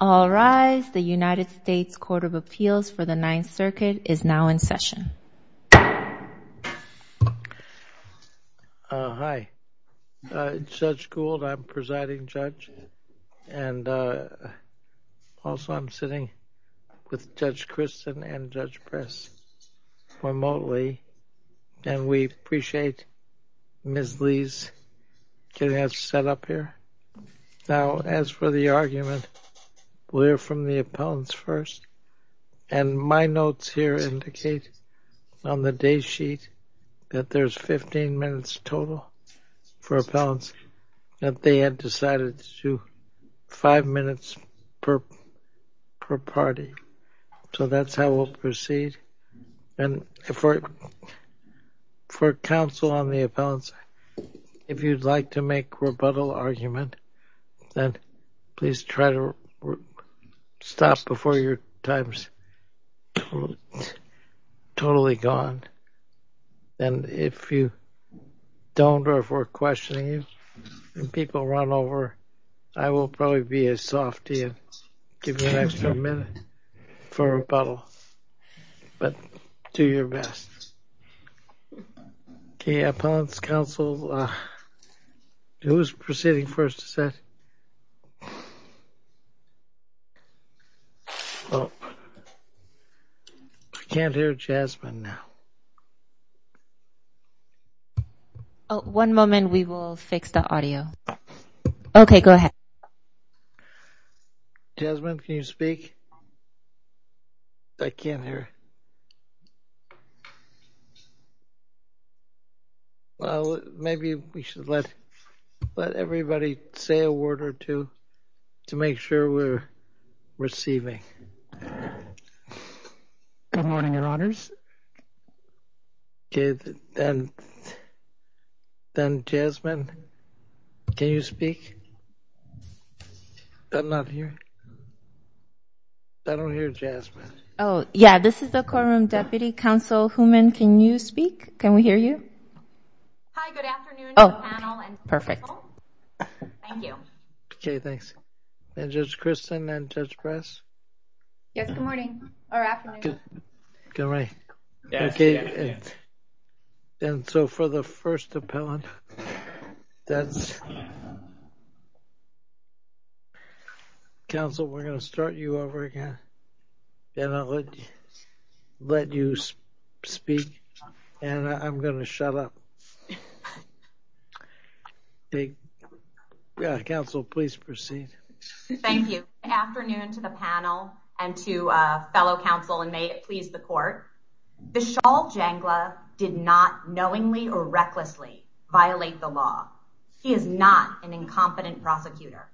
All rise, the United States Court of Appeals for the Ninth Circuit is now in session. Hi, it's Judge Gould, I'm presiding judge, and also I'm sitting with Judge Christin and Judge Press remotely, and we appreciate Ms. Lee's getting us set up here. Now, as for the argument, we'll hear from the appellants first, and my notes here indicate on the day sheet that there's 15 minutes total for appellants, that they had decided to do 5 minutes per party, so that's how we'll proceed. And for counsel on the appellants, if you'd like to make rebuttal argument, then please try to stop before your time's totally gone. And if you don't, or if we're questioning you, and people run over, I will probably be as soft to give you an extra minute for rebuttal, but do your best. Okay, appellants, counsel, who's proceeding first to set? Oh, I can't hear Jasmine now. One moment, we will fix the audio. Okay, go ahead. Jasmine, can you speak? I can't hear. Well, maybe we should let everybody say a word or two to make sure we're receiving. Okay. Good morning, your honors. Okay, then Jasmine, can you speak? I'm not hearing. I don't hear Jasmine. Oh, yeah, this is the courtroom deputy counsel. Hooman, can you speak? Can we hear you? Hi, good afternoon, panel and counsel. Perfect. Thank you. Okay, thanks. And Judge Kristen and Judge Press? Yes, good morning, or afternoon. Good morning. Yes, yes, yes. And so for the first appellant, that's counsel, we're going to start you over again. And I'll let you speak, and I'm going to shut up. Counsel, please proceed. Thank you. Good afternoon to the panel and to fellow counsel, and may it please the court. Vishal Jangla did not knowingly or recklessly violate the law. He is not an incompetent prosecutor.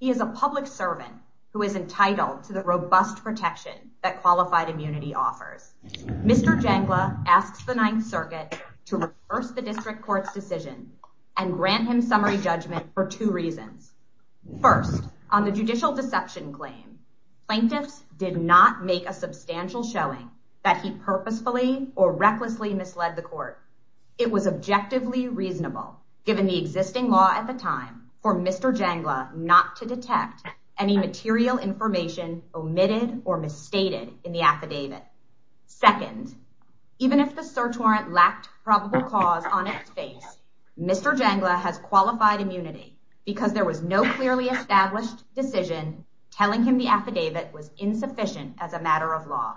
He is a public servant who is entitled to the robust protection that qualified immunity offers. Mr. Jangla asks the Ninth Circuit to reverse the district court's decision and grant him summary judgment for two reasons. First, on the judicial deception claim, plaintiffs did not make a substantial showing that he purposefully or recklessly misled the court. It was objectively reasonable, given the existing law at the time, for Mr. Jangla not to detect any material information omitted or misstated in the affidavit. Second, even if the search warrant lacked probable cause on its face, Mr. Jangla has qualified immunity because there was no clearly established decision telling him the affidavit was insufficient as a matter of law.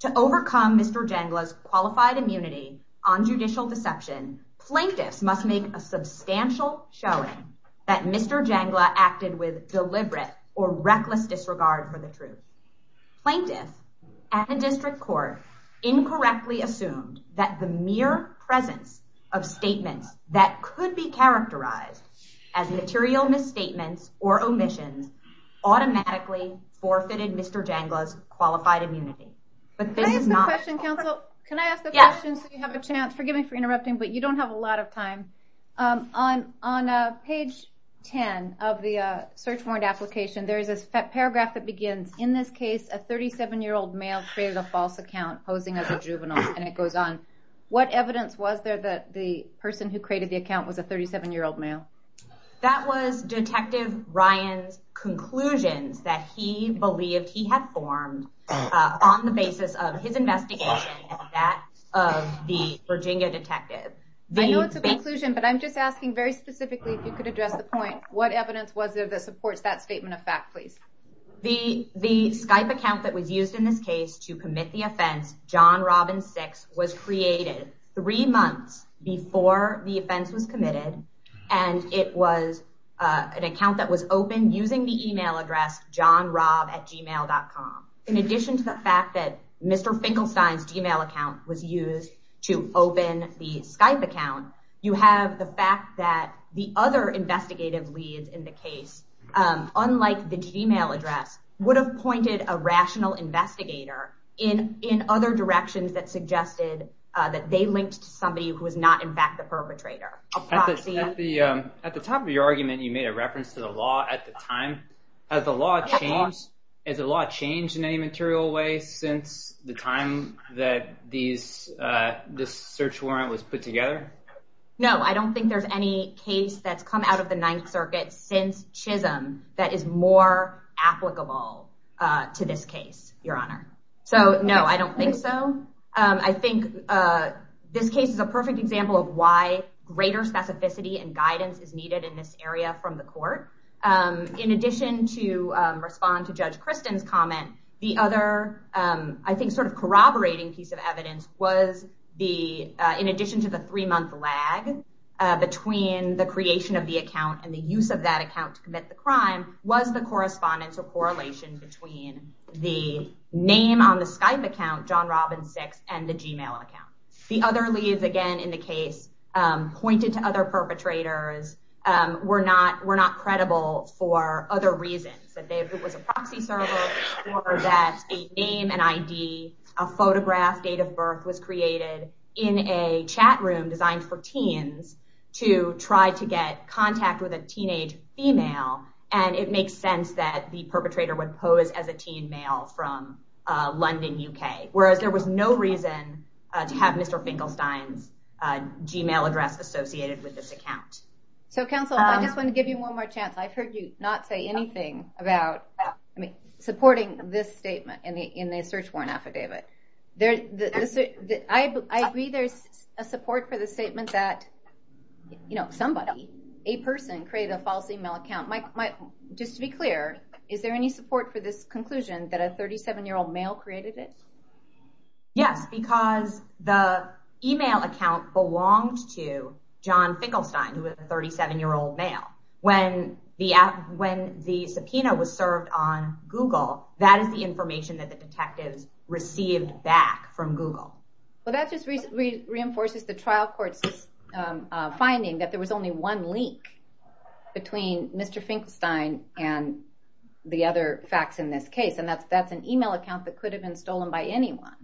To overcome Mr. Jangla's qualified immunity on judicial deception, plaintiffs must make a substantial showing that Mr. Jangla acted with deliberate or reckless disregard for the truth. Plaintiffs at the district court incorrectly assumed that the mere presence of statements that could be characterized as material misstatements or omissions automatically forfeited Mr. Jangla's qualified immunity. Can I ask a question, counsel? Can I ask a question so you have a chance? Forgive me for interrupting, but you don't have a lot of time. On page 10 of the search warrant application, there is a paragraph that begins, in this case, a 37-year-old male created a false account posing as a juvenile, and it goes on. What evidence was there that the person who created the account was a 37-year-old male? That was Detective Ryan's conclusions that he believed he had formed on the basis of his investigation and that of the Virginia detective. I know it's a conclusion, but I'm just asking very specifically if you could address the point. What evidence was there that supports that statement of fact, please? The Skype account that was used in this case to commit the offense, John Robin 6, was created three months before the offense was committed, and it was an account that was opened using the email address johnrobatgmail.com. In addition to the fact that Mr. Finkelstein's Gmail account was used to open the Skype account, you have the fact that the other investigative leads in the case, unlike the Gmail address, would have pointed a rational investigator in other directions that suggested that they linked to somebody who was not, in fact, the perpetrator. At the top of your argument, you made a reference to the law at the time. Has the law changed in any material way since the time that this search warrant was put together? No, I don't think there's any case that's come out of the Ninth Circuit since Chisholm that is more applicable to this case, Your Honor. So, no, I don't think so. I think this case is a perfect example of why greater specificity and guidance is needed in this area from the court. In addition to respond to Judge Kristen's comment, the other, I think, sort of corroborating piece of evidence was in addition to the three-month lag between the creation of the account and the use of that account to commit the crime was the correspondence or correlation between the name on the Skype account, John Robin 6, and the Gmail account. The other leads, again, in the case pointed to other perpetrators were not credible for other reasons. They said it was a proxy server or that a name, an ID, a photograph, date of birth was created in a chat room designed for teens to try to get contact with a teenage female, and it makes sense that the perpetrator would pose as a teen male from London, UK, whereas there was no reason to have Mr. Finkelstein's Gmail address associated with this account. So, counsel, I just want to give you one more chance. I've heard you not say anything about supporting this statement in the search warrant affidavit. I agree there's a support for the statement that somebody, a person, created a false email account. Just to be clear, is there any support for this conclusion that a 37-year-old male created it? Yes, because the email account belonged to John Finkelstein, who was a 37-year-old male. When the subpoena was served on Google, that is the information that the detectives received back from Google. Well, that just reinforces the trial court's finding that there was only one link between Mr. Finkelstein and the other facts in this case, and that's an email account that could have been stolen by anyone.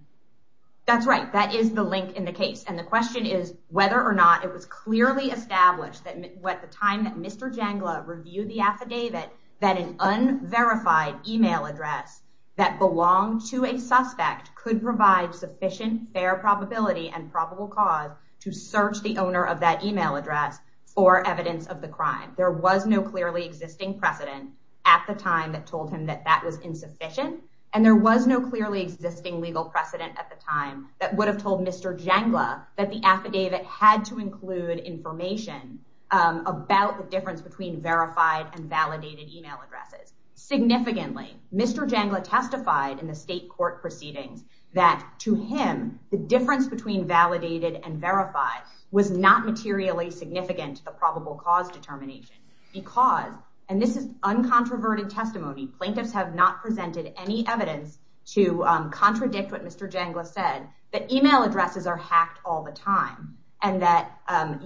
That's right. That is the link in the case. And the question is whether or not it was clearly established at the time that Mr. Jangla reviewed the affidavit that an unverified email address that belonged to a suspect could provide sufficient fair probability and probable cause to search the owner of that email address for evidence of the crime. There was no clearly existing precedent at the time that told him that that was insufficient, and there was no clearly existing legal precedent at the time that would have told Mr. Jangla that the affidavit had to include information about the difference between verified and validated email addresses. Significantly, Mr. Jangla testified in the state court proceedings that, to him, the difference between validated and verified was not materially significant to the probable cause determination because, and this is uncontroverted testimony, plaintiffs have not presented any evidence to contradict what Mr. Jangla said, that email addresses are hacked all the time and that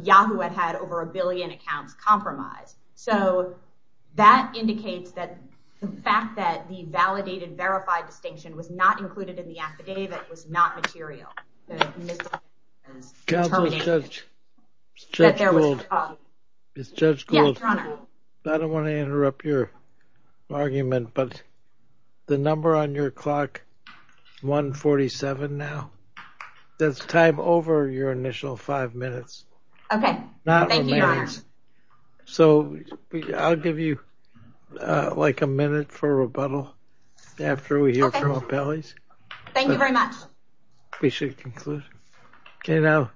Yahoo had had over a billion accounts compromised. So that indicates that the fact that the validated-verified distinction was not included in the affidavit was not material. Counsel, Judge Gould. Yes, Your Honor. I don't want to interrupt your argument, but the number on your clock, 147 now, that's time over your initial five minutes. Okay. Thank you, Your Honor. So I'll give you, like, a minute for rebuttal after we hear from appellees. Thank you very much. We should conclude. Okay, now,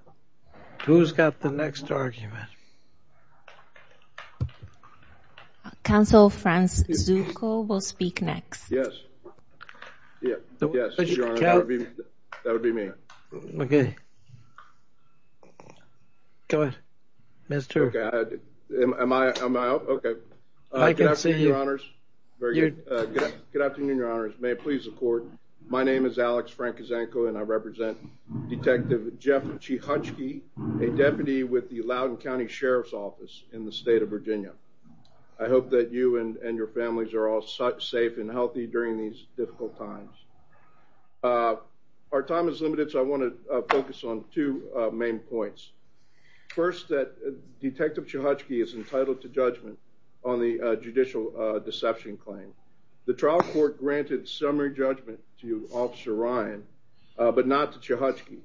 who's got the next argument? Counsel, Franz Zucco will speak next. Yes, Your Honor, that would be me. Okay. Go ahead, Mr. Okay. Am I out? Okay. Good afternoon, Your Honors. Very good. Good afternoon, Your Honors. May it please the Court. My name is Alex Frank Zucco, and I represent Detective Jeff Chichotsky, a deputy with the Loudoun County Sheriff's Office in the state of Virginia. I hope that you and your families are all safe and healthy during these difficult times. Our time is limited, so I want to focus on two main points. First, that Detective Chichotsky is entitled to judgment on the judicial deception claim. The trial court granted summary judgment to Officer Ryan, but not to Chichotsky,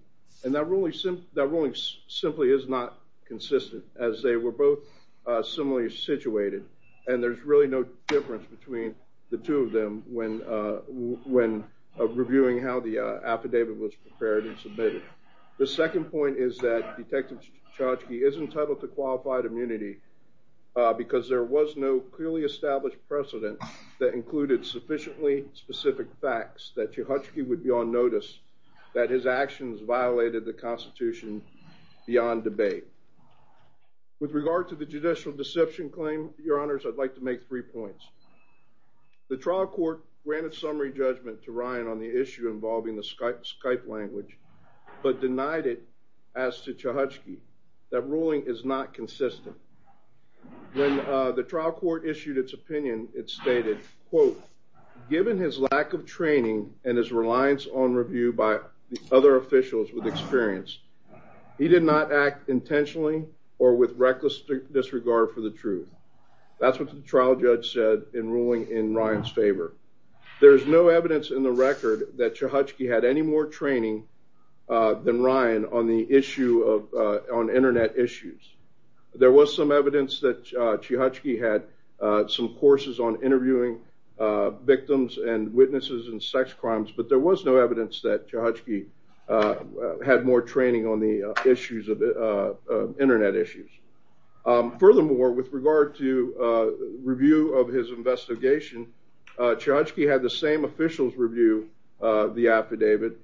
and that ruling simply is not consistent, as they were both similarly situated, and there's really no difference between the two of them when reviewing how the affidavit was prepared and submitted. The second point is that Detective Chichotsky is entitled to qualified immunity because there was no clearly established precedent that included sufficiently specific facts that Chichotsky would be on notice that his actions violated the Constitution beyond debate. With regard to the judicial deception claim, Your Honors, I'd like to make three points. The trial court granted summary judgment to Ryan on the issue involving the Skype language, but denied it as to Chichotsky. That ruling is not consistent. When the trial court issued its opinion, it stated, quote, Given his lack of training and his reliance on review by other officials with experience, he did not act intentionally or with reckless disregard for the truth. That's what the trial judge said in ruling in Ryan's favor. There is no evidence in the record that Chichotsky had any more training than Ryan on the issue of Internet issues. There was some evidence that Chichotsky had some courses on interviewing victims and witnesses in sex crimes, but there was no evidence that Chichotsky had more training on the issues of Internet issues. Furthermore, with regard to review of his investigation, Chichotsky had the same officials review the affidavit,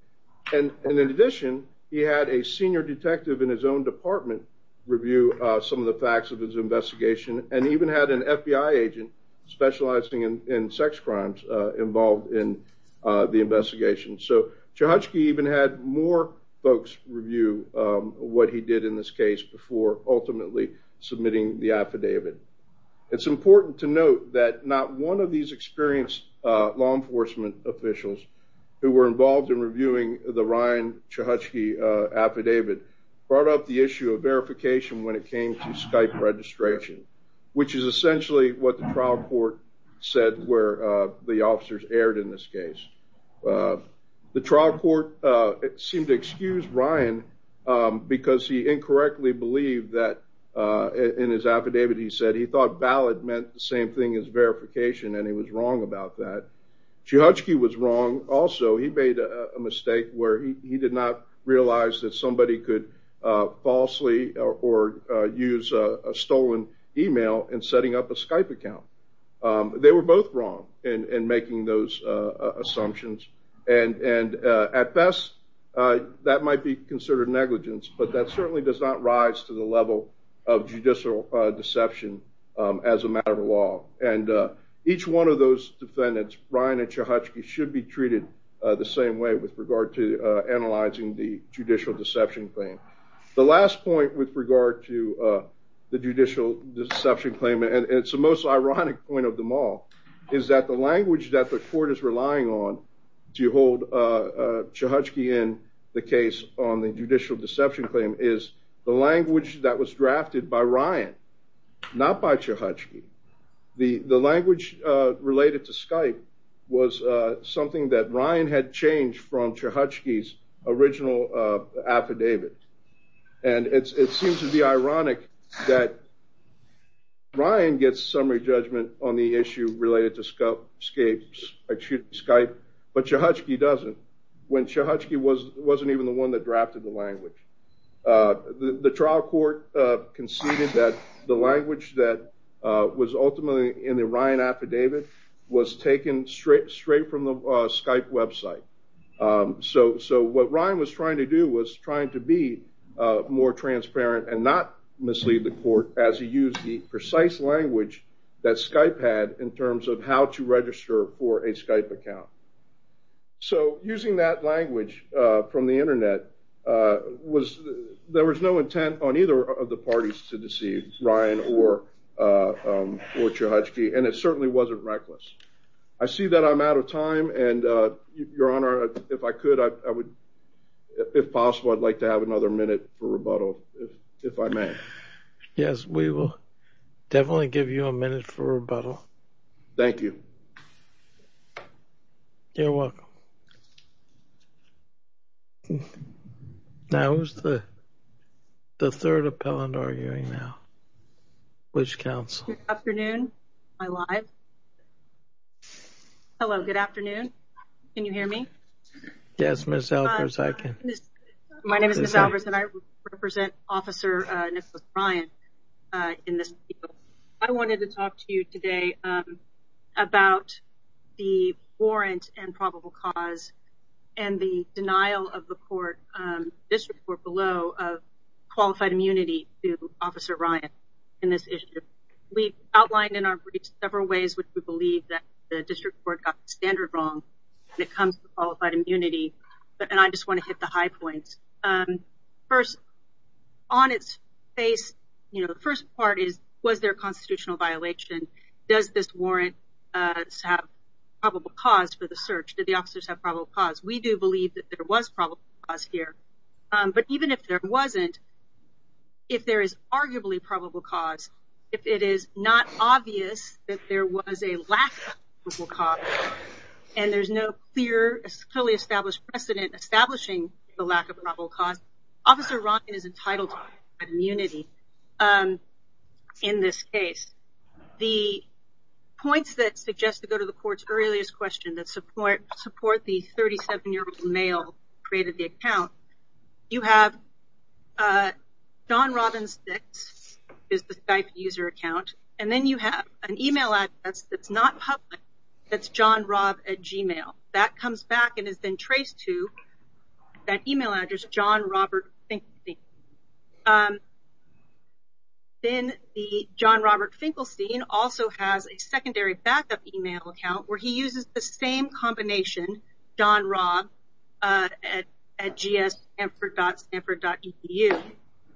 and in addition, he had a senior detective in his own department review some of the facts of his investigation, and even had an FBI agent specializing in sex crimes involved in the investigation. So Chichotsky even had more folks review what he did in this case before ultimately submitting the affidavit. It's important to note that not one of these experienced law enforcement officials who were involved in reviewing the Ryan Chichotsky affidavit brought up the issue of verification when it came to Skype registration, which is essentially what the trial court said where the officers erred in this case. The trial court seemed to excuse Ryan because he incorrectly believed that in his affidavit he said he thought ballot meant the same thing as verification, and he was wrong about that. Chichotsky was wrong also. He made a mistake where he did not realize that somebody could falsely or use a stolen email in setting up a Skype account. They were both wrong in making those assumptions, and at best that might be considered negligence, but that certainly does not rise to the level of judicial deception as a matter of law, and each one of those defendants, Ryan and Chichotsky, should be treated the same way with regard to analyzing the judicial deception claim. The last point with regard to the judicial deception claim, and it's the most ironic point of them all, is that the language that the court is relying on to hold Chichotsky in the case on the judicial deception claim is the language that was drafted by Ryan, not by Chichotsky. The language related to Skype was something that Ryan had changed from Chichotsky's original affidavit, and it seems to be ironic that Ryan gets summary judgment on the issue related to Skype, but Chichotsky doesn't, when Chichotsky wasn't even the one that drafted the language. The trial court conceded that the language that was ultimately in the Ryan affidavit was taken straight from the Skype website, so what Ryan was trying to do was trying to be more transparent and not mislead the court as he used the precise language that Skype had in terms of how to register for a Skype account. So using that language from the internet, there was no intent on either of the parties to deceive Ryan or Chichotsky, and it certainly wasn't reckless. I see that I'm out of time, and Your Honor, if I could, if possible, I'd like to have another minute for rebuttal, if I may. Yes, we will definitely give you a minute for rebuttal. Thank you. You're welcome. Now who's the third appellant arguing now? Which counsel? Good afternoon. Am I live? Hello, good afternoon. Can you hear me? Yes, Ms. Albers, I can. My name is Ms. Albers, and I represent Officer Nicholas Ryan in this case. I wanted to talk to you today about the warrant and probable cause and the denial of the court, district court below, of qualified immunity to Officer Ryan in this issue. We've outlined in our briefs several ways which we believe that the district court got the standard wrong when it comes to qualified immunity, and I just want to hit the high points. First, on its face, you know, the first part is, was there a constitutional violation? Does this warrant have probable cause for the search? Did the officers have probable cause? We do believe that there was probable cause here. But even if there wasn't, if there is arguably probable cause, if it is not obvious that there was a lack of probable cause and there's no clear, fully established precedent establishing the lack of probable cause, Officer Ryan is entitled to immunity in this case. The points that suggest to go to the court's earliest question that support the 37-year-old male who created the account, you have John Robbins 6 is the Skype user account, and then you have an email address that's not public that's johnrobb at gmail. That comes back and is then traced to that email address, johnrobertfinkelstein. Then the johnrobertfinkelstein also has a secondary backup email account where he uses the same combination, johnrobb at gssanford.sanford.edu.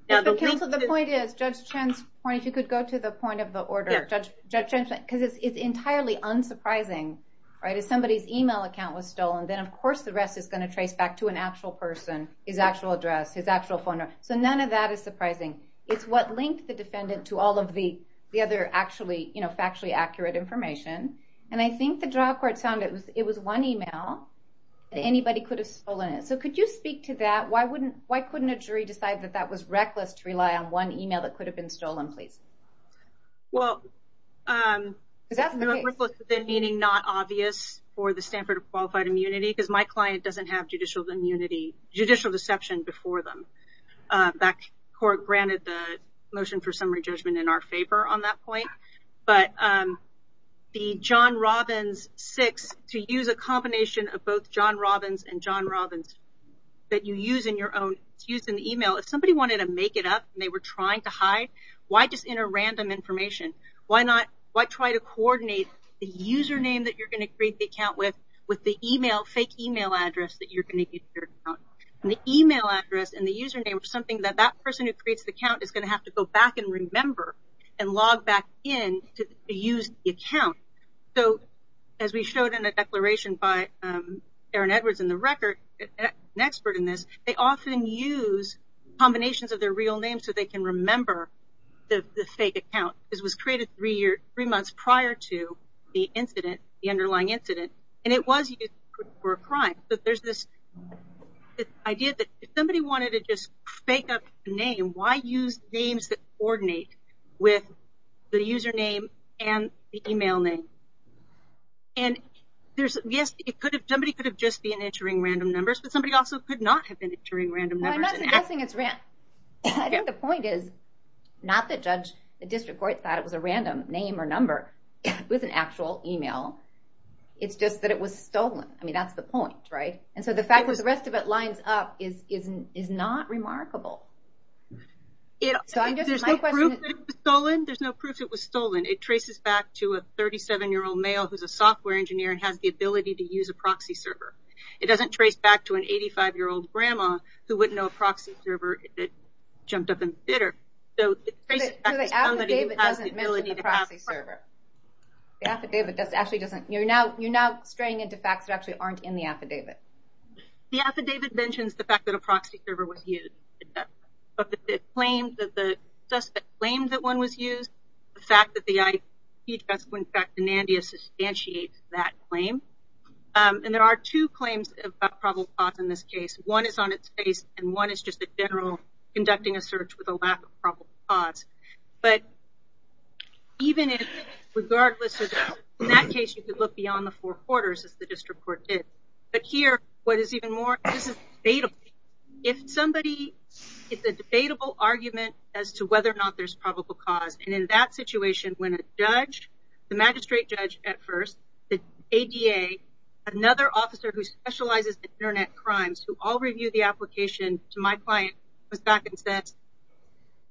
The point is, Judge Chen's point, if you could go to the point of the order, because it's entirely unsurprising, right? If somebody's email account was stolen, then of course the rest is going to trace back to an actual person, his actual address, his actual phone number. So none of that is surprising. It's what linked the defendant to all of the other actually factually accurate information. And I think the drawcard sounded, it was one email. Anybody could have stolen it. So could you speak to that? Why couldn't a jury decide that that was reckless to rely on one email that could have been stolen, please? Well, reckless, meaning not obvious for the Stanford Qualified Immunity, because my client doesn't have judicial immunity, judicial deception before them. That court granted the motion for summary judgment in our favor on that point. But the johnrobbins6, to use a combination of both johnrobbins and johnrobbins that you use in your own, it's used in the email. If somebody wanted to make it up and they were trying to hide, why just enter random information? Why not try to coordinate the username that you're going to create the account with with the fake email address that you're going to give to your account? And the email address and the username are something that that person who creates the account is going to have to go back and remember and log back in to use the account. So as we showed in a declaration by Aaron Edwards in the record, an expert in this, they often use combinations of their real names so they can remember the fake account. This was created three months prior to the incident, the underlying incident, and it was used for a crime. But there's this idea that if somebody wanted to just fake up a name, why use names that coordinate with the username and the email name? And yes, somebody could have just been entering random numbers, but somebody also could not have been entering random numbers. Well, I'm not suggesting it's random. I think the point is not that the district court thought it was a random name or number with an actual email. It's just that it was stolen. I mean, that's the point, right? And so the fact that the rest of it lines up is not remarkable. There's no proof it was stolen. It traces back to a 37-year-old male who's a software engineer and has the ability to use a proxy server. It doesn't trace back to an 85-year-old grandma who wouldn't know a proxy server that jumped up in the theater. So the affidavit doesn't mention the proxy server. The affidavit actually doesn't. You're now straying into facts that actually aren't in the affidavit. The affidavit mentions the fact that a proxy server was used. But the claims that the suspect claimed that one was used, the fact that the IP address went back to NANDIA substantiates that claim. And there are two claims about probable cause in this case. One is on its face, and one is just a general conducting a search with a lack of probable cause. But even if, regardless of that, in that case, you could look beyond the four quarters, as the district court did. But here, what is even more, this is debatable. If somebody gets a debatable argument as to whether or not there's probable cause, and in that situation, when a judge, the magistrate judge at first, the ADA, another officer who specializes in Internet crimes, who all reviewed the application to my client, was back and said,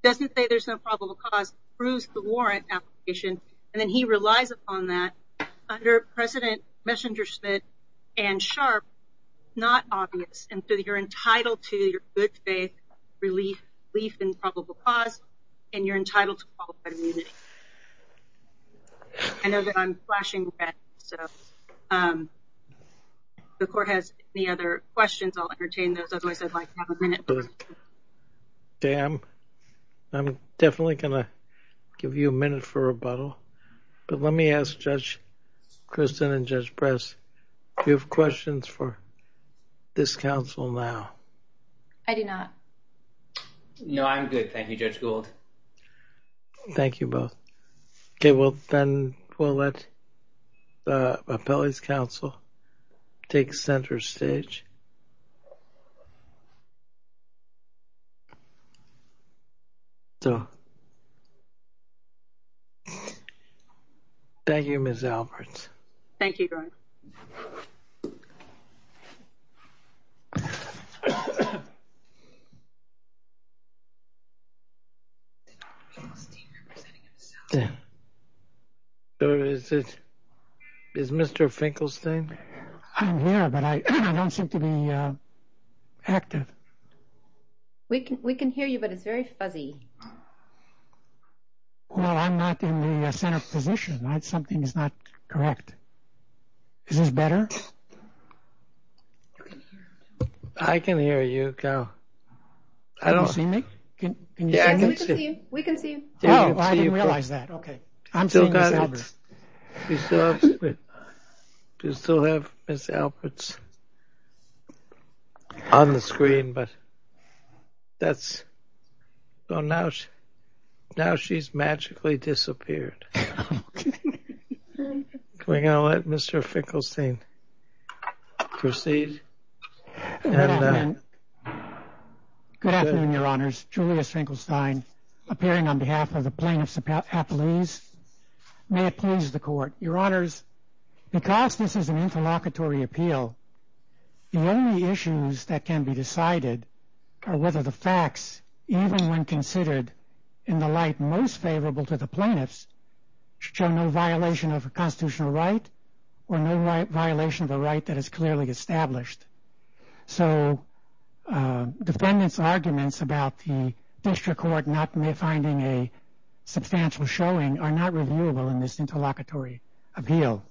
doesn't say there's no probable cause, proves the warrant application, and then he relies upon that under President Messenger-Schmidt and Sharp, not obvious. And so you're entitled to your good faith relief in probable cause, and you're entitled to qualified immunity. I know that I'm flashing red, so if the court has any other questions, I'll entertain those. Otherwise, I'd like to have a minute. Okay, I'm definitely going to give you a minute for rebuttal. But let me ask Judge Christin and Judge Press, do you have questions for this counsel now? I do not. No, I'm good. Thank you, Judge Gould. Thank you both. Okay, well, then we'll let the appellee's counsel take center stage. Thank you, Ms. Alberts. Thank you, Judge. Is Mr. Finkelstein? I'm here, but I don't seem to be active. We can hear you, but it's very fuzzy. Well, I'm not in the center position. Something's not correct. Is this better? I can hear you, Cal. Can you see me? We can see you. Oh, I didn't realize that. Okay. I'm seeing Ms. Alberts. We still have Ms. Alberts on the screen, but now she's magically disappeared. Okay. We're going to let Mr. Finkelstein proceed. Good afternoon, Your Honors. Julius Finkelstein, appearing on behalf of the plaintiff's appellees. May it please the Court. Your Honors, because this is an interlocutory appeal, the only issues that can be decided are whether the facts, even when considered in the light most favorable to the plaintiffs, show no violation of a constitutional right or no violation of a right that is clearly established. So defendants' arguments about the district court not finding a substantial showing are not reviewable in this interlocutory appeal.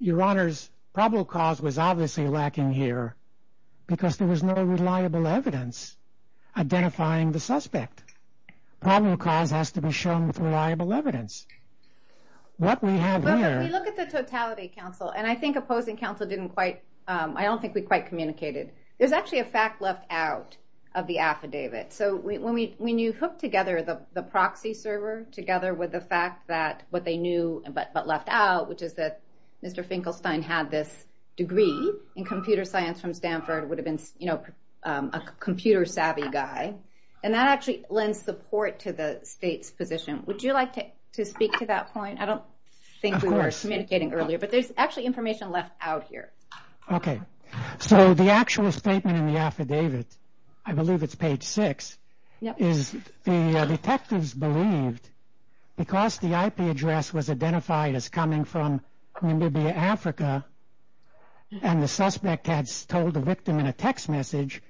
Your Honors, probable cause was obviously lacking here because there was no reliable evidence identifying the suspect. Probable cause has to be shown with reliable evidence. What we have here- Well, if we look at the totality, counsel, and I think opposing counsel didn't quite- I don't think we quite communicated. There's actually a fact left out of the affidavit. So when you hook together the proxy server together with the fact that what they knew but left out, which is that Mr. Finkelstein had this degree in computer science from Stanford, would have been a computer-savvy guy, and that actually lends support to the state's position. Would you like to speak to that point? I don't think we were communicating earlier, but there's actually information left out here. Okay. So the actual statement in the affidavit, I believe it's page 6, is the detectives believed, because the IP address was identified as coming from Namibia, Africa, and the suspect had told the victim in a text message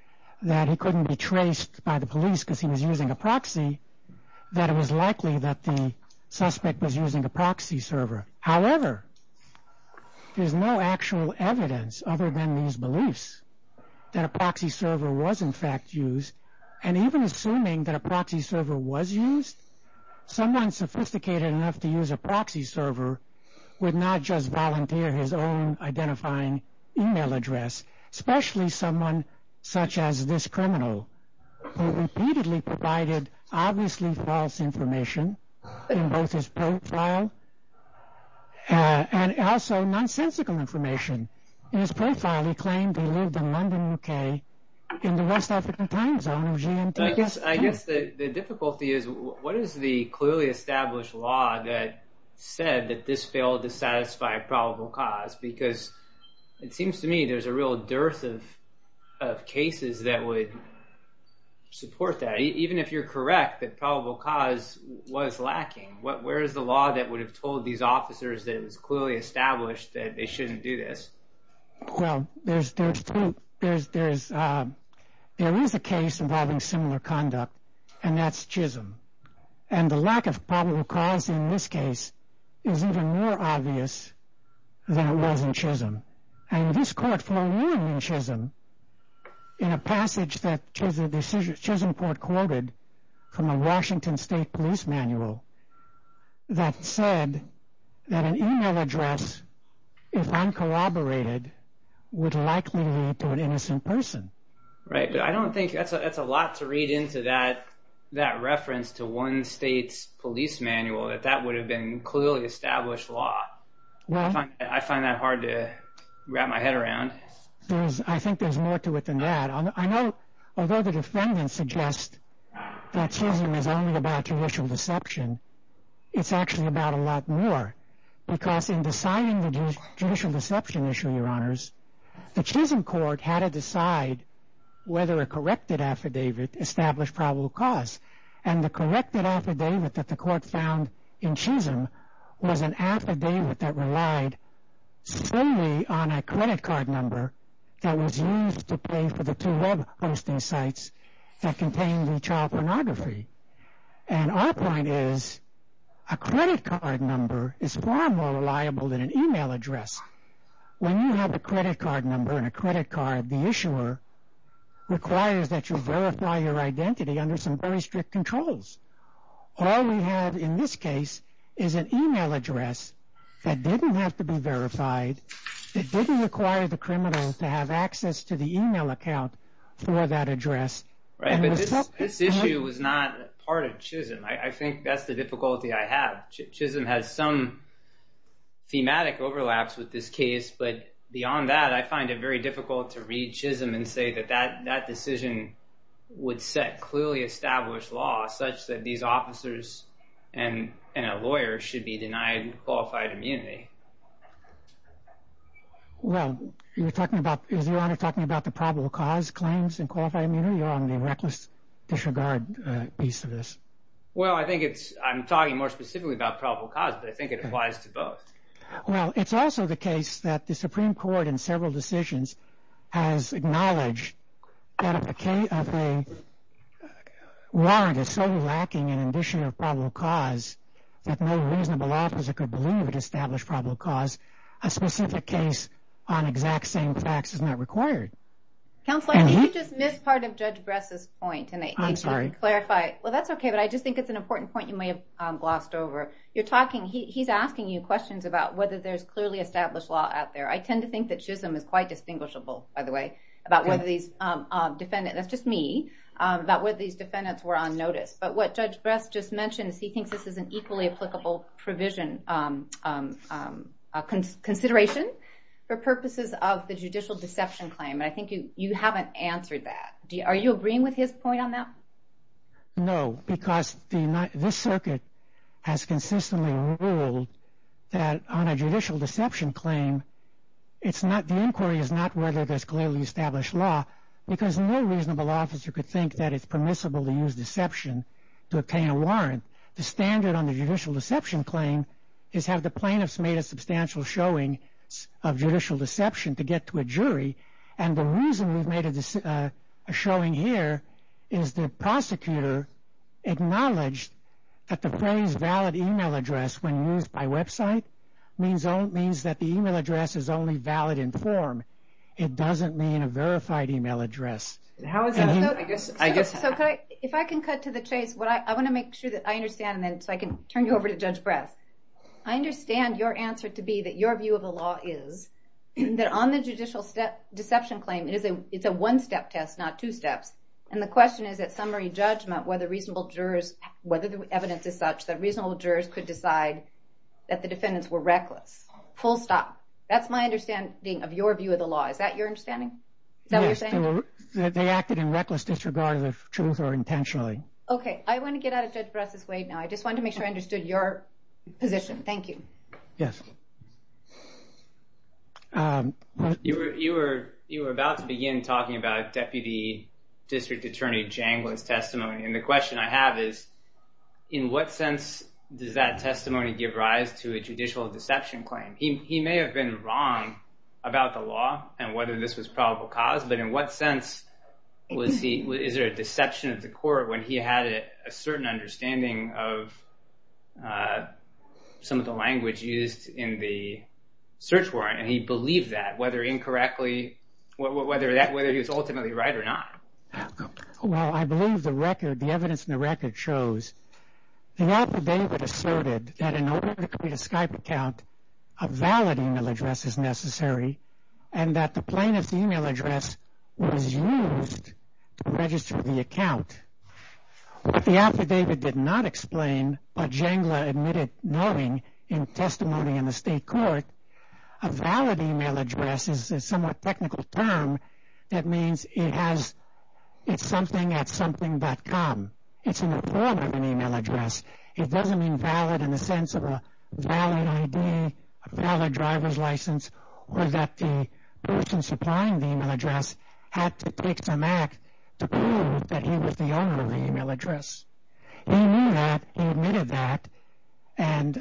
that he couldn't be traced by the police because he was using a proxy, that it was likely that the suspect was using a proxy server. However, there's no actual evidence other than these beliefs that a proxy server was in fact used, and even assuming that a proxy server was used, someone sophisticated enough to use a proxy server would not just volunteer his own identifying email address, especially someone such as this criminal, who repeatedly provided obviously false information in both his profile and also nonsensical information in his profile. He claimed he lived in London, UK, in the West African time zone of GMT. I guess the difficulty is, what is the clearly established law that said that this failed to satisfy a probable cause? Because it seems to me there's a real dearth of cases that would support that. Even if you're correct that probable cause was lacking, where is the law that would have told these officers that it was clearly established that they shouldn't do this? Well, there is a case involving similar conduct, and that's Chisholm. And the lack of probable cause in this case is even more obvious than it was in Chisholm. And this court found more in Chisholm in a passage that Chisholm Court quoted from a Washington State police manual that said that an email address, if uncorroborated, would likely lead to an innocent person. Right, but I don't think... That's a lot to read into that reference to one state's police manual, that that would have been clearly established law. I find that hard to wrap my head around. I think there's more to it than that. I know, although the defendants suggest that Chisholm is only about judicial deception, it's actually about a lot more. Because in deciding the judicial deception issue, Your Honors, the Chisholm Court had to decide whether a corrected affidavit established probable cause. And the corrected affidavit that the court found in Chisholm was an affidavit that relied solely on a credit card number that was used to pay for the two web hosting sites that contained the child pornography. And our point is, a credit card number is far more reliable than an email address. When you have a credit card number and a credit card, the issuer requires that you verify your identity under some very strict controls. All we have in this case is an email address that didn't have to be verified. It didn't require the criminal to have access to the email account for that address. Right, but this issue was not part of Chisholm. I think that's the difficulty I have. Chisholm has some thematic overlaps with this case, but beyond that, I find it very difficult to read Chisholm and say that that decision would set clearly established law, such that these officers and a lawyer should be denied qualified immunity. Well, is Your Honor talking about the probable cause claims and qualified immunity? You're on the reckless disregard piece of this. Well, I'm talking more specifically about probable cause, but I think it applies to both. Well, it's also the case that the Supreme Court in several decisions has acknowledged that if the warrant is so lacking in addition of probable cause that no reasonable officer could believe it established probable cause, a specific case on exact same facts is not required. Counsel, I think you just missed part of Judge Bress' point. I'm sorry. Well, that's okay, but I just think it's an important point you may have glossed over. He's asking you questions about whether there's clearly established law out there. I tend to think that Chisholm is quite distinguishable, by the way, about whether these defendants, that's just me, about whether these defendants were on notice. But what Judge Bress just mentioned is he thinks this is an equally applicable provision, consideration for purposes of the judicial deception claim, and I think you haven't answered that. Are you agreeing with his point on that? No, because this circuit has consistently ruled that on a judicial deception claim, the inquiry is not whether there's clearly established law because no reasonable officer could think that it's permissible to use deception to obtain a warrant. The standard on the judicial deception claim is have the plaintiffs made a substantial showing of judicial deception to get to a jury, and the reason we've made a showing here is the prosecutor acknowledged that the phrase valid email address when used by website means that the email address is only valid in form. It doesn't mean a verified email address. How is that? If I can cut to the chase, I want to make sure that I understand, so I can turn you over to Judge Bress. I understand your answer to be that your view of the law is that on the judicial deception claim, it's a one-step test, not two steps, and the question is at summary judgment whether the evidence is such that reasonable jurors could decide that the defendants were reckless. Full stop. That's my understanding of your view of the law. Is that your understanding? Is that what you're saying? Yes, they acted in reckless disregard of the truth or intentionally. Okay, I want to get out of Judge Bress' way now. I just wanted to make sure I understood your position. Thank you. Yes. You were about to begin talking about Deputy District Attorney Janglin's testimony, and the question I have is in what sense does that testimony give rise to a judicial deception claim? He may have been wrong about the law and whether this was probable cause, but in what sense is there a deception of the court when he had a certain understanding of some of the language used in the search warrant, and he believed that, whether he was ultimately right or not? Well, I believe the record, the evidence in the record shows the affidavit asserted that in order to create a Skype account, a valid email address is necessary, and that the plaintiff's email address was used to register the account. What the affidavit did not explain, but Janglin admitted knowing in testimony in the state court, a valid email address is a somewhat technical term that means it's something at something dot com. It's in the form of an email address. It doesn't mean valid in the sense of a valid ID, a valid driver's license, or that the person supplying the email address had to take some act to prove that he was the owner of the email address. He knew that, he admitted that, and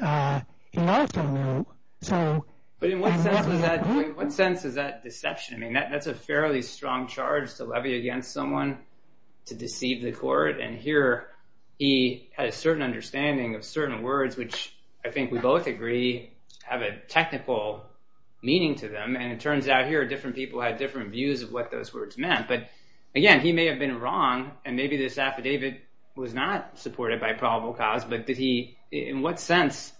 he also knew, so... But in what sense is that deception? I mean, that's a fairly strong charge to levy against someone to deceive the court, and here he had a certain understanding of certain words, which I think we both agree have a technical meaning to them, and it turns out here different people had different views of what those words meant. But again, he may have been wrong, and maybe this affidavit was not supported by probable cause, but did he... In what sense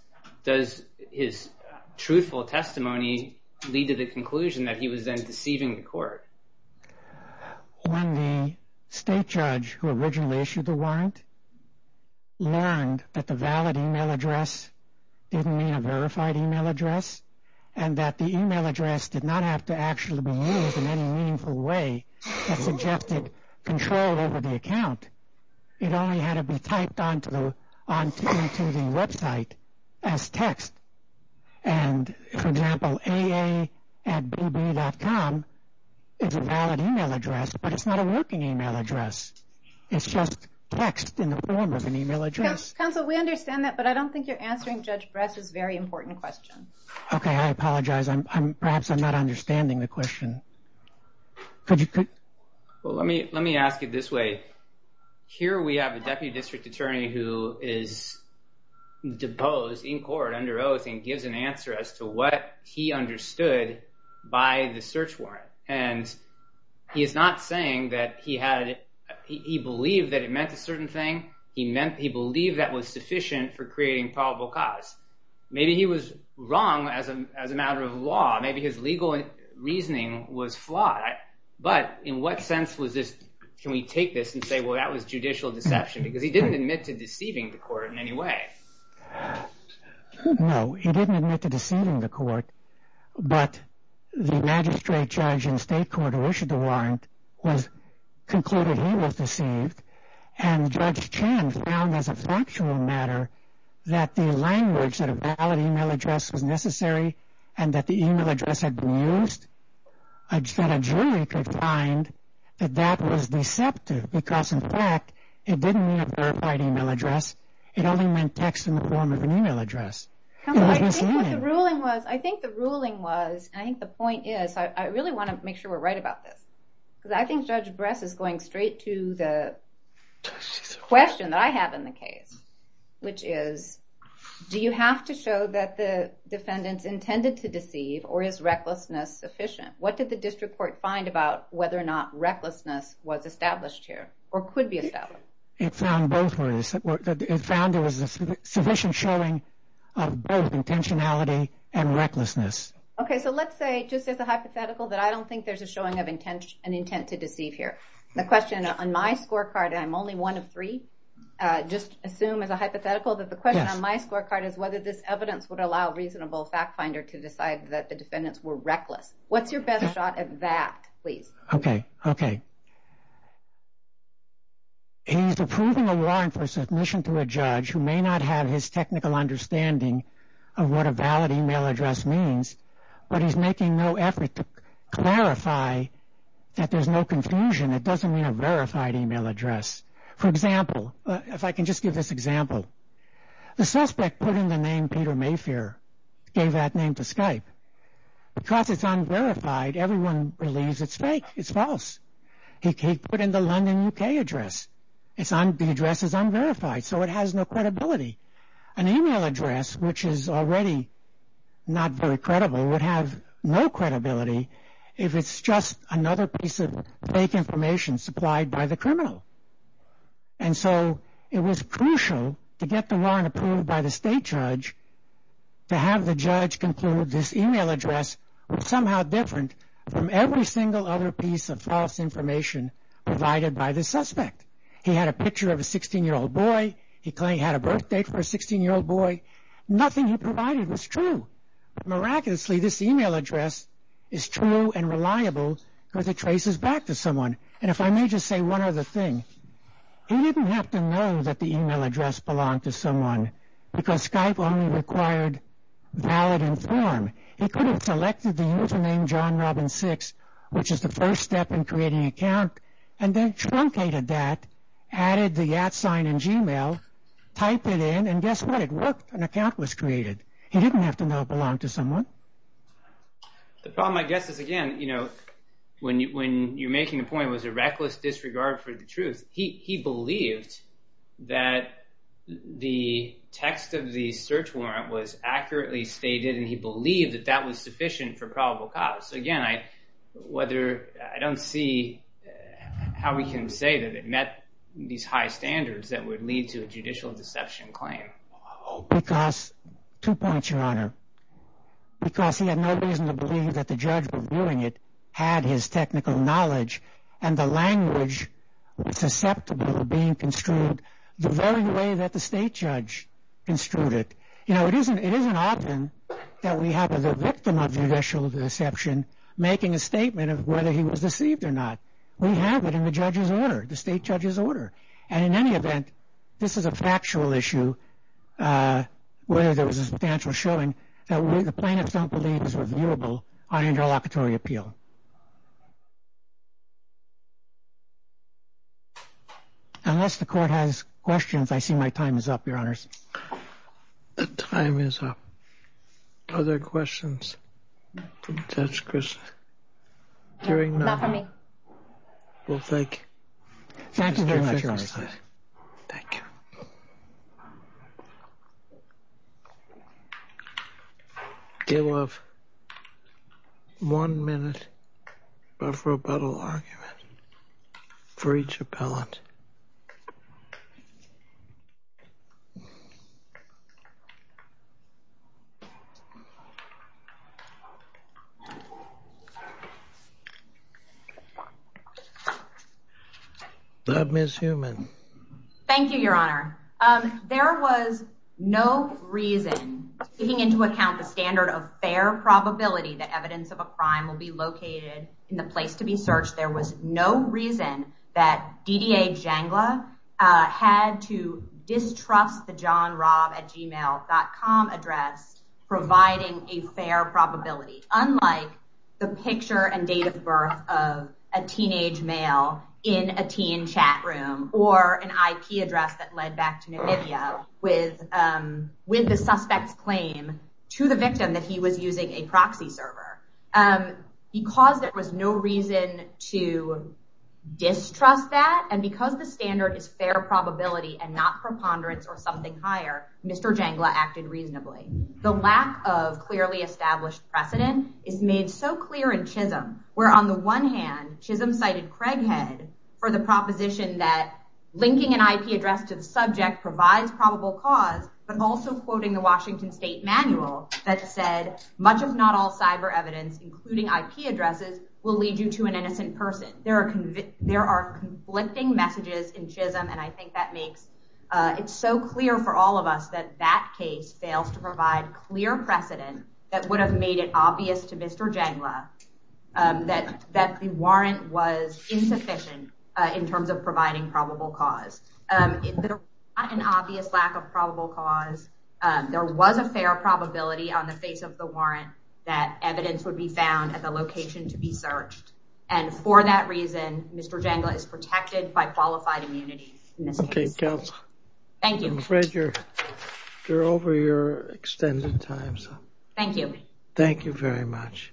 does his truthful testimony lead to the conclusion that he was then deceiving the court? When the state judge who originally issued the warrant learned that the valid email address didn't mean a verified email address, and that the email address did not have to actually be used in any meaningful way that suggested control over the account, it only had to be typed onto the website as text. And, for example, aa.bb.com is a valid email address, but it's not a working email address. It's just text in the form of an email address. Counsel, we understand that, but I don't think you're answering Judge Brest's very important question. Okay, I apologize. Perhaps I'm not understanding the question. Could you... Well, let me ask it this way. Here we have a deputy district attorney who is deposed in court under oath and gives an answer as to what he understood by the search warrant. And he is not saying that he had... He believed that it meant a certain thing. He believed that was sufficient for creating probable cause. Maybe he was wrong as a matter of law. Maybe his legal reasoning was flawed. But in what sense was this... Can we take this and say, well, that was judicial deception? Because he didn't admit to deceiving the court in any way. No, he didn't admit to deceiving the court. But the magistrate judge in state court who issued the warrant concluded he was deceived. And Judge Chan found as a factual matter that the language that a valid email address was necessary and that the email address had been used, that a jury could find that that was deceptive because, in fact, it didn't mean a verified email address. It only meant text in the form of an email address. Come on, I think what the ruling was... I think the ruling was... I think the point is... I really want to make sure we're right about this. Because I think Judge Bress is going straight to the question that I have in the case, which is, do you have to show that the defendant's intended to deceive or is recklessness sufficient? What did the district court find about whether or not It found both ways. It found there was sufficient showing of both intentionality and recklessness. Okay, so let's say, just as a hypothetical, that I don't think there's a showing of an intent to deceive here. The question on my scorecard, and I'm only one of three, just assume as a hypothetical that the question on my scorecard is whether this evidence would allow reasonable fact finder to decide that the defendants were reckless. What's your best shot at that, please? Okay, okay. He's approving a warrant for submission to a judge who may not have his technical understanding of what a valid email address means, but he's making no effort to clarify that there's no confusion. It doesn't mean a verified email address. For example, if I can just give this example, the suspect put in the name Peter Mayfair, gave that name to Skype. Because it's unverified, everyone believes it's fake. It's false. He put in the London, UK address. The address is unverified, so it has no credibility. An email address, which is already not very credible, would have no credibility if it's just another piece of fake information supplied by the criminal. And so it was crucial to get the warrant approved by the state judge to have the judge conclude this email address was somehow different from every single other piece of false information provided by the suspect. He had a picture of a 16-year-old boy. He claimed he had a birthdate for a 16-year-old boy. Nothing he provided was true. But miraculously, this email address is true and reliable because it traces back to someone. And if I may just say one other thing, he didn't have to know that the email address belonged to someone because Skype only required valid and form. He could have selected the username JohnRobin6, which is the first step in creating an account, and then truncated that, added the at sign in Gmail, typed it in, and guess what? It worked. An account was created. He didn't have to know it belonged to someone. The problem, I guess, is again, when you're making the point it was a reckless disregard for the truth, he believed that the text of the search warrant was accurately stated and he believed that that was sufficient for probable cause. So again, I don't see how we can say that it met these high standards that would lead to a judicial deception claim. Because, two points, Your Honor. Because he had no reason to believe that the judge reviewing it had his technical knowledge and the language susceptible of being construed the very way that the state judge construed it. You know, it isn't often that we have the victim of judicial deception making a statement of whether he was deceived or not. We have it in the judge's order, the state judge's order. And in any event, this is a factual issue where there was a substantial showing that the plaintiffs don't believe is reviewable on interlocutory appeal. Unless the court has questions, I see my time is up, Your Honors. The time is up. Are there questions for Judge Christin? Hearing none. Not for me. Well, thank you. Thank you very much, Your Honor. Thank you. You have one minute for a rebuttal argument for each appellant. Ms. Heumann. Thank you, Your Honor. There was no reason, taking into account the standard of fair probability that evidence of a crime will be located in the place to be searched, there was no reason that DDA Jangla had to distrust the johnrobatgmail.com address providing a fair probability, unlike the picture and date of birth of a teenage male in a teen chat room or an IP address that led back to Namibia with the suspect's claim to the victim that he was using a proxy server. Because there was no reason to distrust that and because the standard is fair probability and not preponderance or something higher, Mr. Jangla acted reasonably. The lack of clearly established precedent is made so clear in Chisholm, where on the one hand, Chisholm cited Craighead for the proposition that linking an IP address to the subject provides probable cause, but also quoting the Washington State Manual that said, much if not all cyber evidence, including IP addresses, will lead you to an innocent person. There are conflicting messages in Chisholm and I think that makes it so clear for all of us that that case fails to provide clear precedent that would have made it obvious to Mr. Jangla that the warrant was insufficient in terms of providing probable cause. There was not an obvious lack of probable cause. There was a fair probability that evidence would be found at the location to be searched and for that reason, Mr. Jangla is protected by qualified immunity in this case. Okay, counsel. Thank you. I'm afraid you're over your extended time. Thank you. Thank you very much.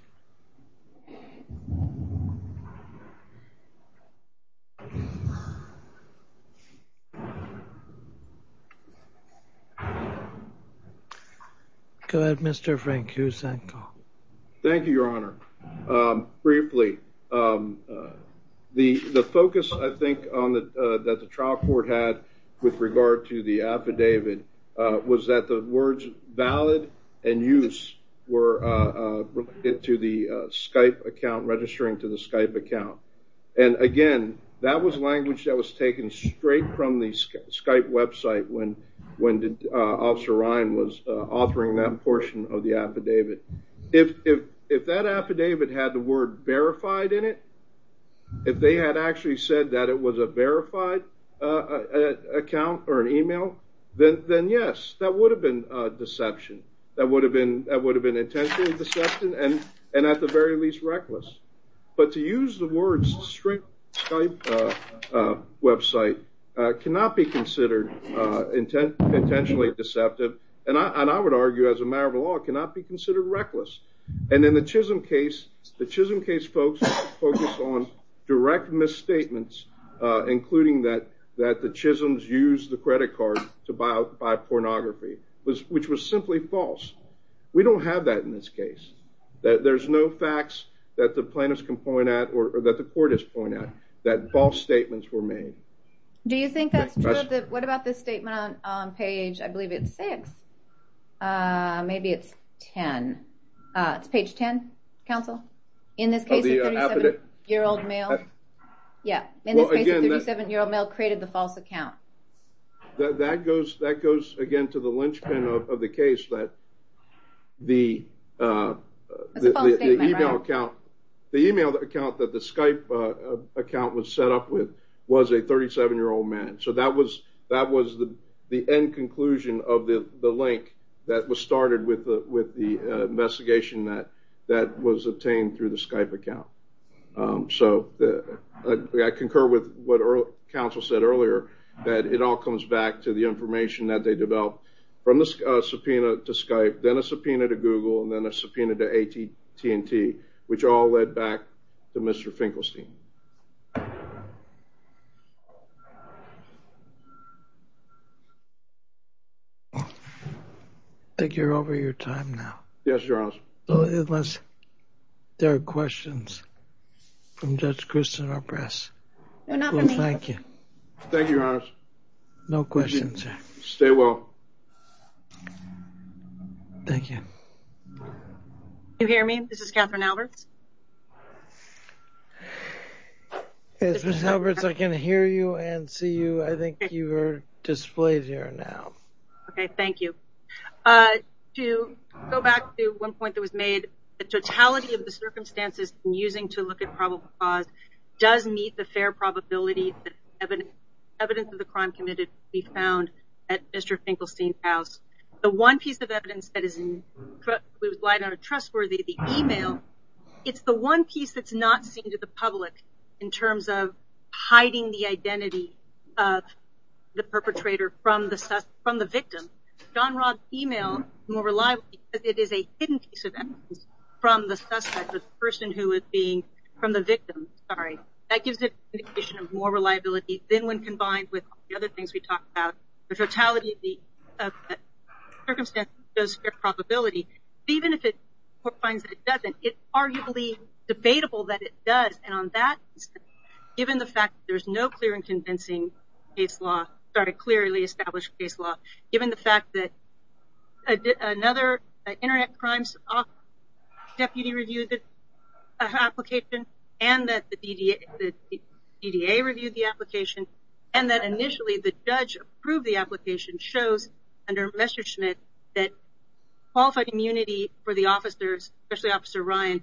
Go ahead, Mr. Frank Husanko. Thank you, Your Honor. Briefly, the focus, I think, that the trial court had with regard to the affidavit was that the words valid and use were related to the Skype account, registering to the Skype account and again, that was language that was taken straight from the Skype website when Officer Ryan was authoring that portion of the affidavit. If that affidavit had the word verified in it, if they had actually said that it was a verified account or an email, then yes, that would have been deception. That would have been intentionally deceptive and at the very least reckless but to use the words straight from the Skype website cannot be considered intentionally deceptive and I would argue as a matter of law it cannot be considered reckless and in the Chisholm case, the Chisholm case folks focused on direct misstatements including that the Chisholm's used the credit card to buy pornography which was simply false. We don't have that in this case. There's no facts that the plaintiffs can point at or that the court has pointed at that false statements were made. Do you think that's true? What about the statement on page, I believe it's six. Maybe it's 10. It's page 10, counsel. In this case, a 37-year-old male. Yeah, in this case, a 37-year-old male created the false account. That goes again to the linchpin of the case that the email account that the Skype account was set up with was a 37-year-old man so that was the end conclusion of the link that was started with the investigation that was obtained through the Skype account. I concur with what counsel said earlier that it all comes back to the information that they developed from the subpoena to Skype then a subpoena to Google and then a subpoena to AT&T which all led back to Mr. Finkelstein. I think you're over your time now. Yes, Your Honor. Unless there are questions from Judge Kristen or press. No, not for me. Well, thank you. Thank you, Your Honor. No questions, sir. Stay well. Thank you. Can you hear me? This is Kathryn Alberts. Yes, Ms. Alberts, I can hear you and see you. I think you are displayed here now. Okay, thank you. To go back to one point that was made, the totality of the circumstances in using to look at probable cause does meet the fair probability that evidence of the crime committed will be found at Mr. Finkelstein's house. The one piece of evidence that is not trustworthy, the email, it's the one piece that's not seen to the public in terms of hiding the identity of the perpetrator from the victim. John Robb's email is more reliable because it is a hidden piece of evidence from the suspect, the person who is being, from the victim, sorry. That gives it an indication of more reliability than when combined with the other things we talked about. The totality of the circumstances shows fair probability. Even if the court finds that it doesn't, it's arguably debatable that it does. And on that instance, given the fact that there's no clear and convincing case law, sorry, clearly established case law, given the fact that another Internet Crimes Office deputy reviewed the application and that the DDA reviewed the application and that initially the judge approved the application shows under Messerschmitt that qualified immunity for the officers, especially Officer Ryan,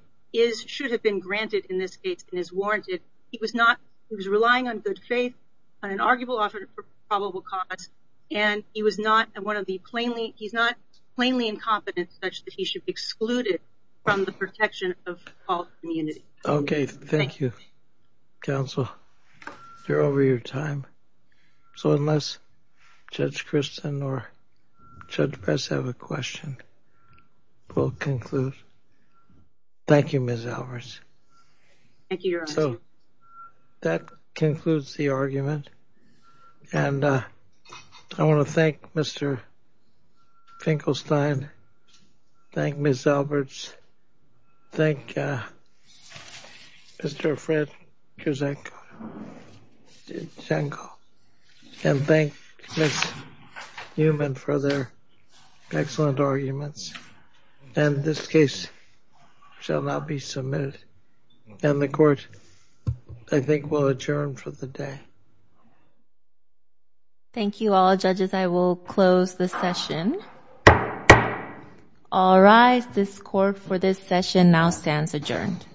should have been granted in this case and is warranted. He was not, he was relying on good faith, on an arguable offer for probable cause, and he was not one of the plainly, he's not plainly incompetent such that he should be excluded from the protection of qualified immunity. Okay, thank you, counsel. You're over your time. So unless Judge Kristen or Judge Bess have a question, we'll conclude. Thank you, Ms. Alvarez. Thank you, Your Honor. So that concludes the argument. And I want to thank Mr. Finkelstein, thank Ms. Alberts, thank Mr. Fred Cusack, and thank Ms. Newman for their excellent arguments. And this case shall now be submitted. And the court, I think, will adjourn for the day. Thank you all. Judges, I will close the session. All rise. This court for this session now stands adjourned.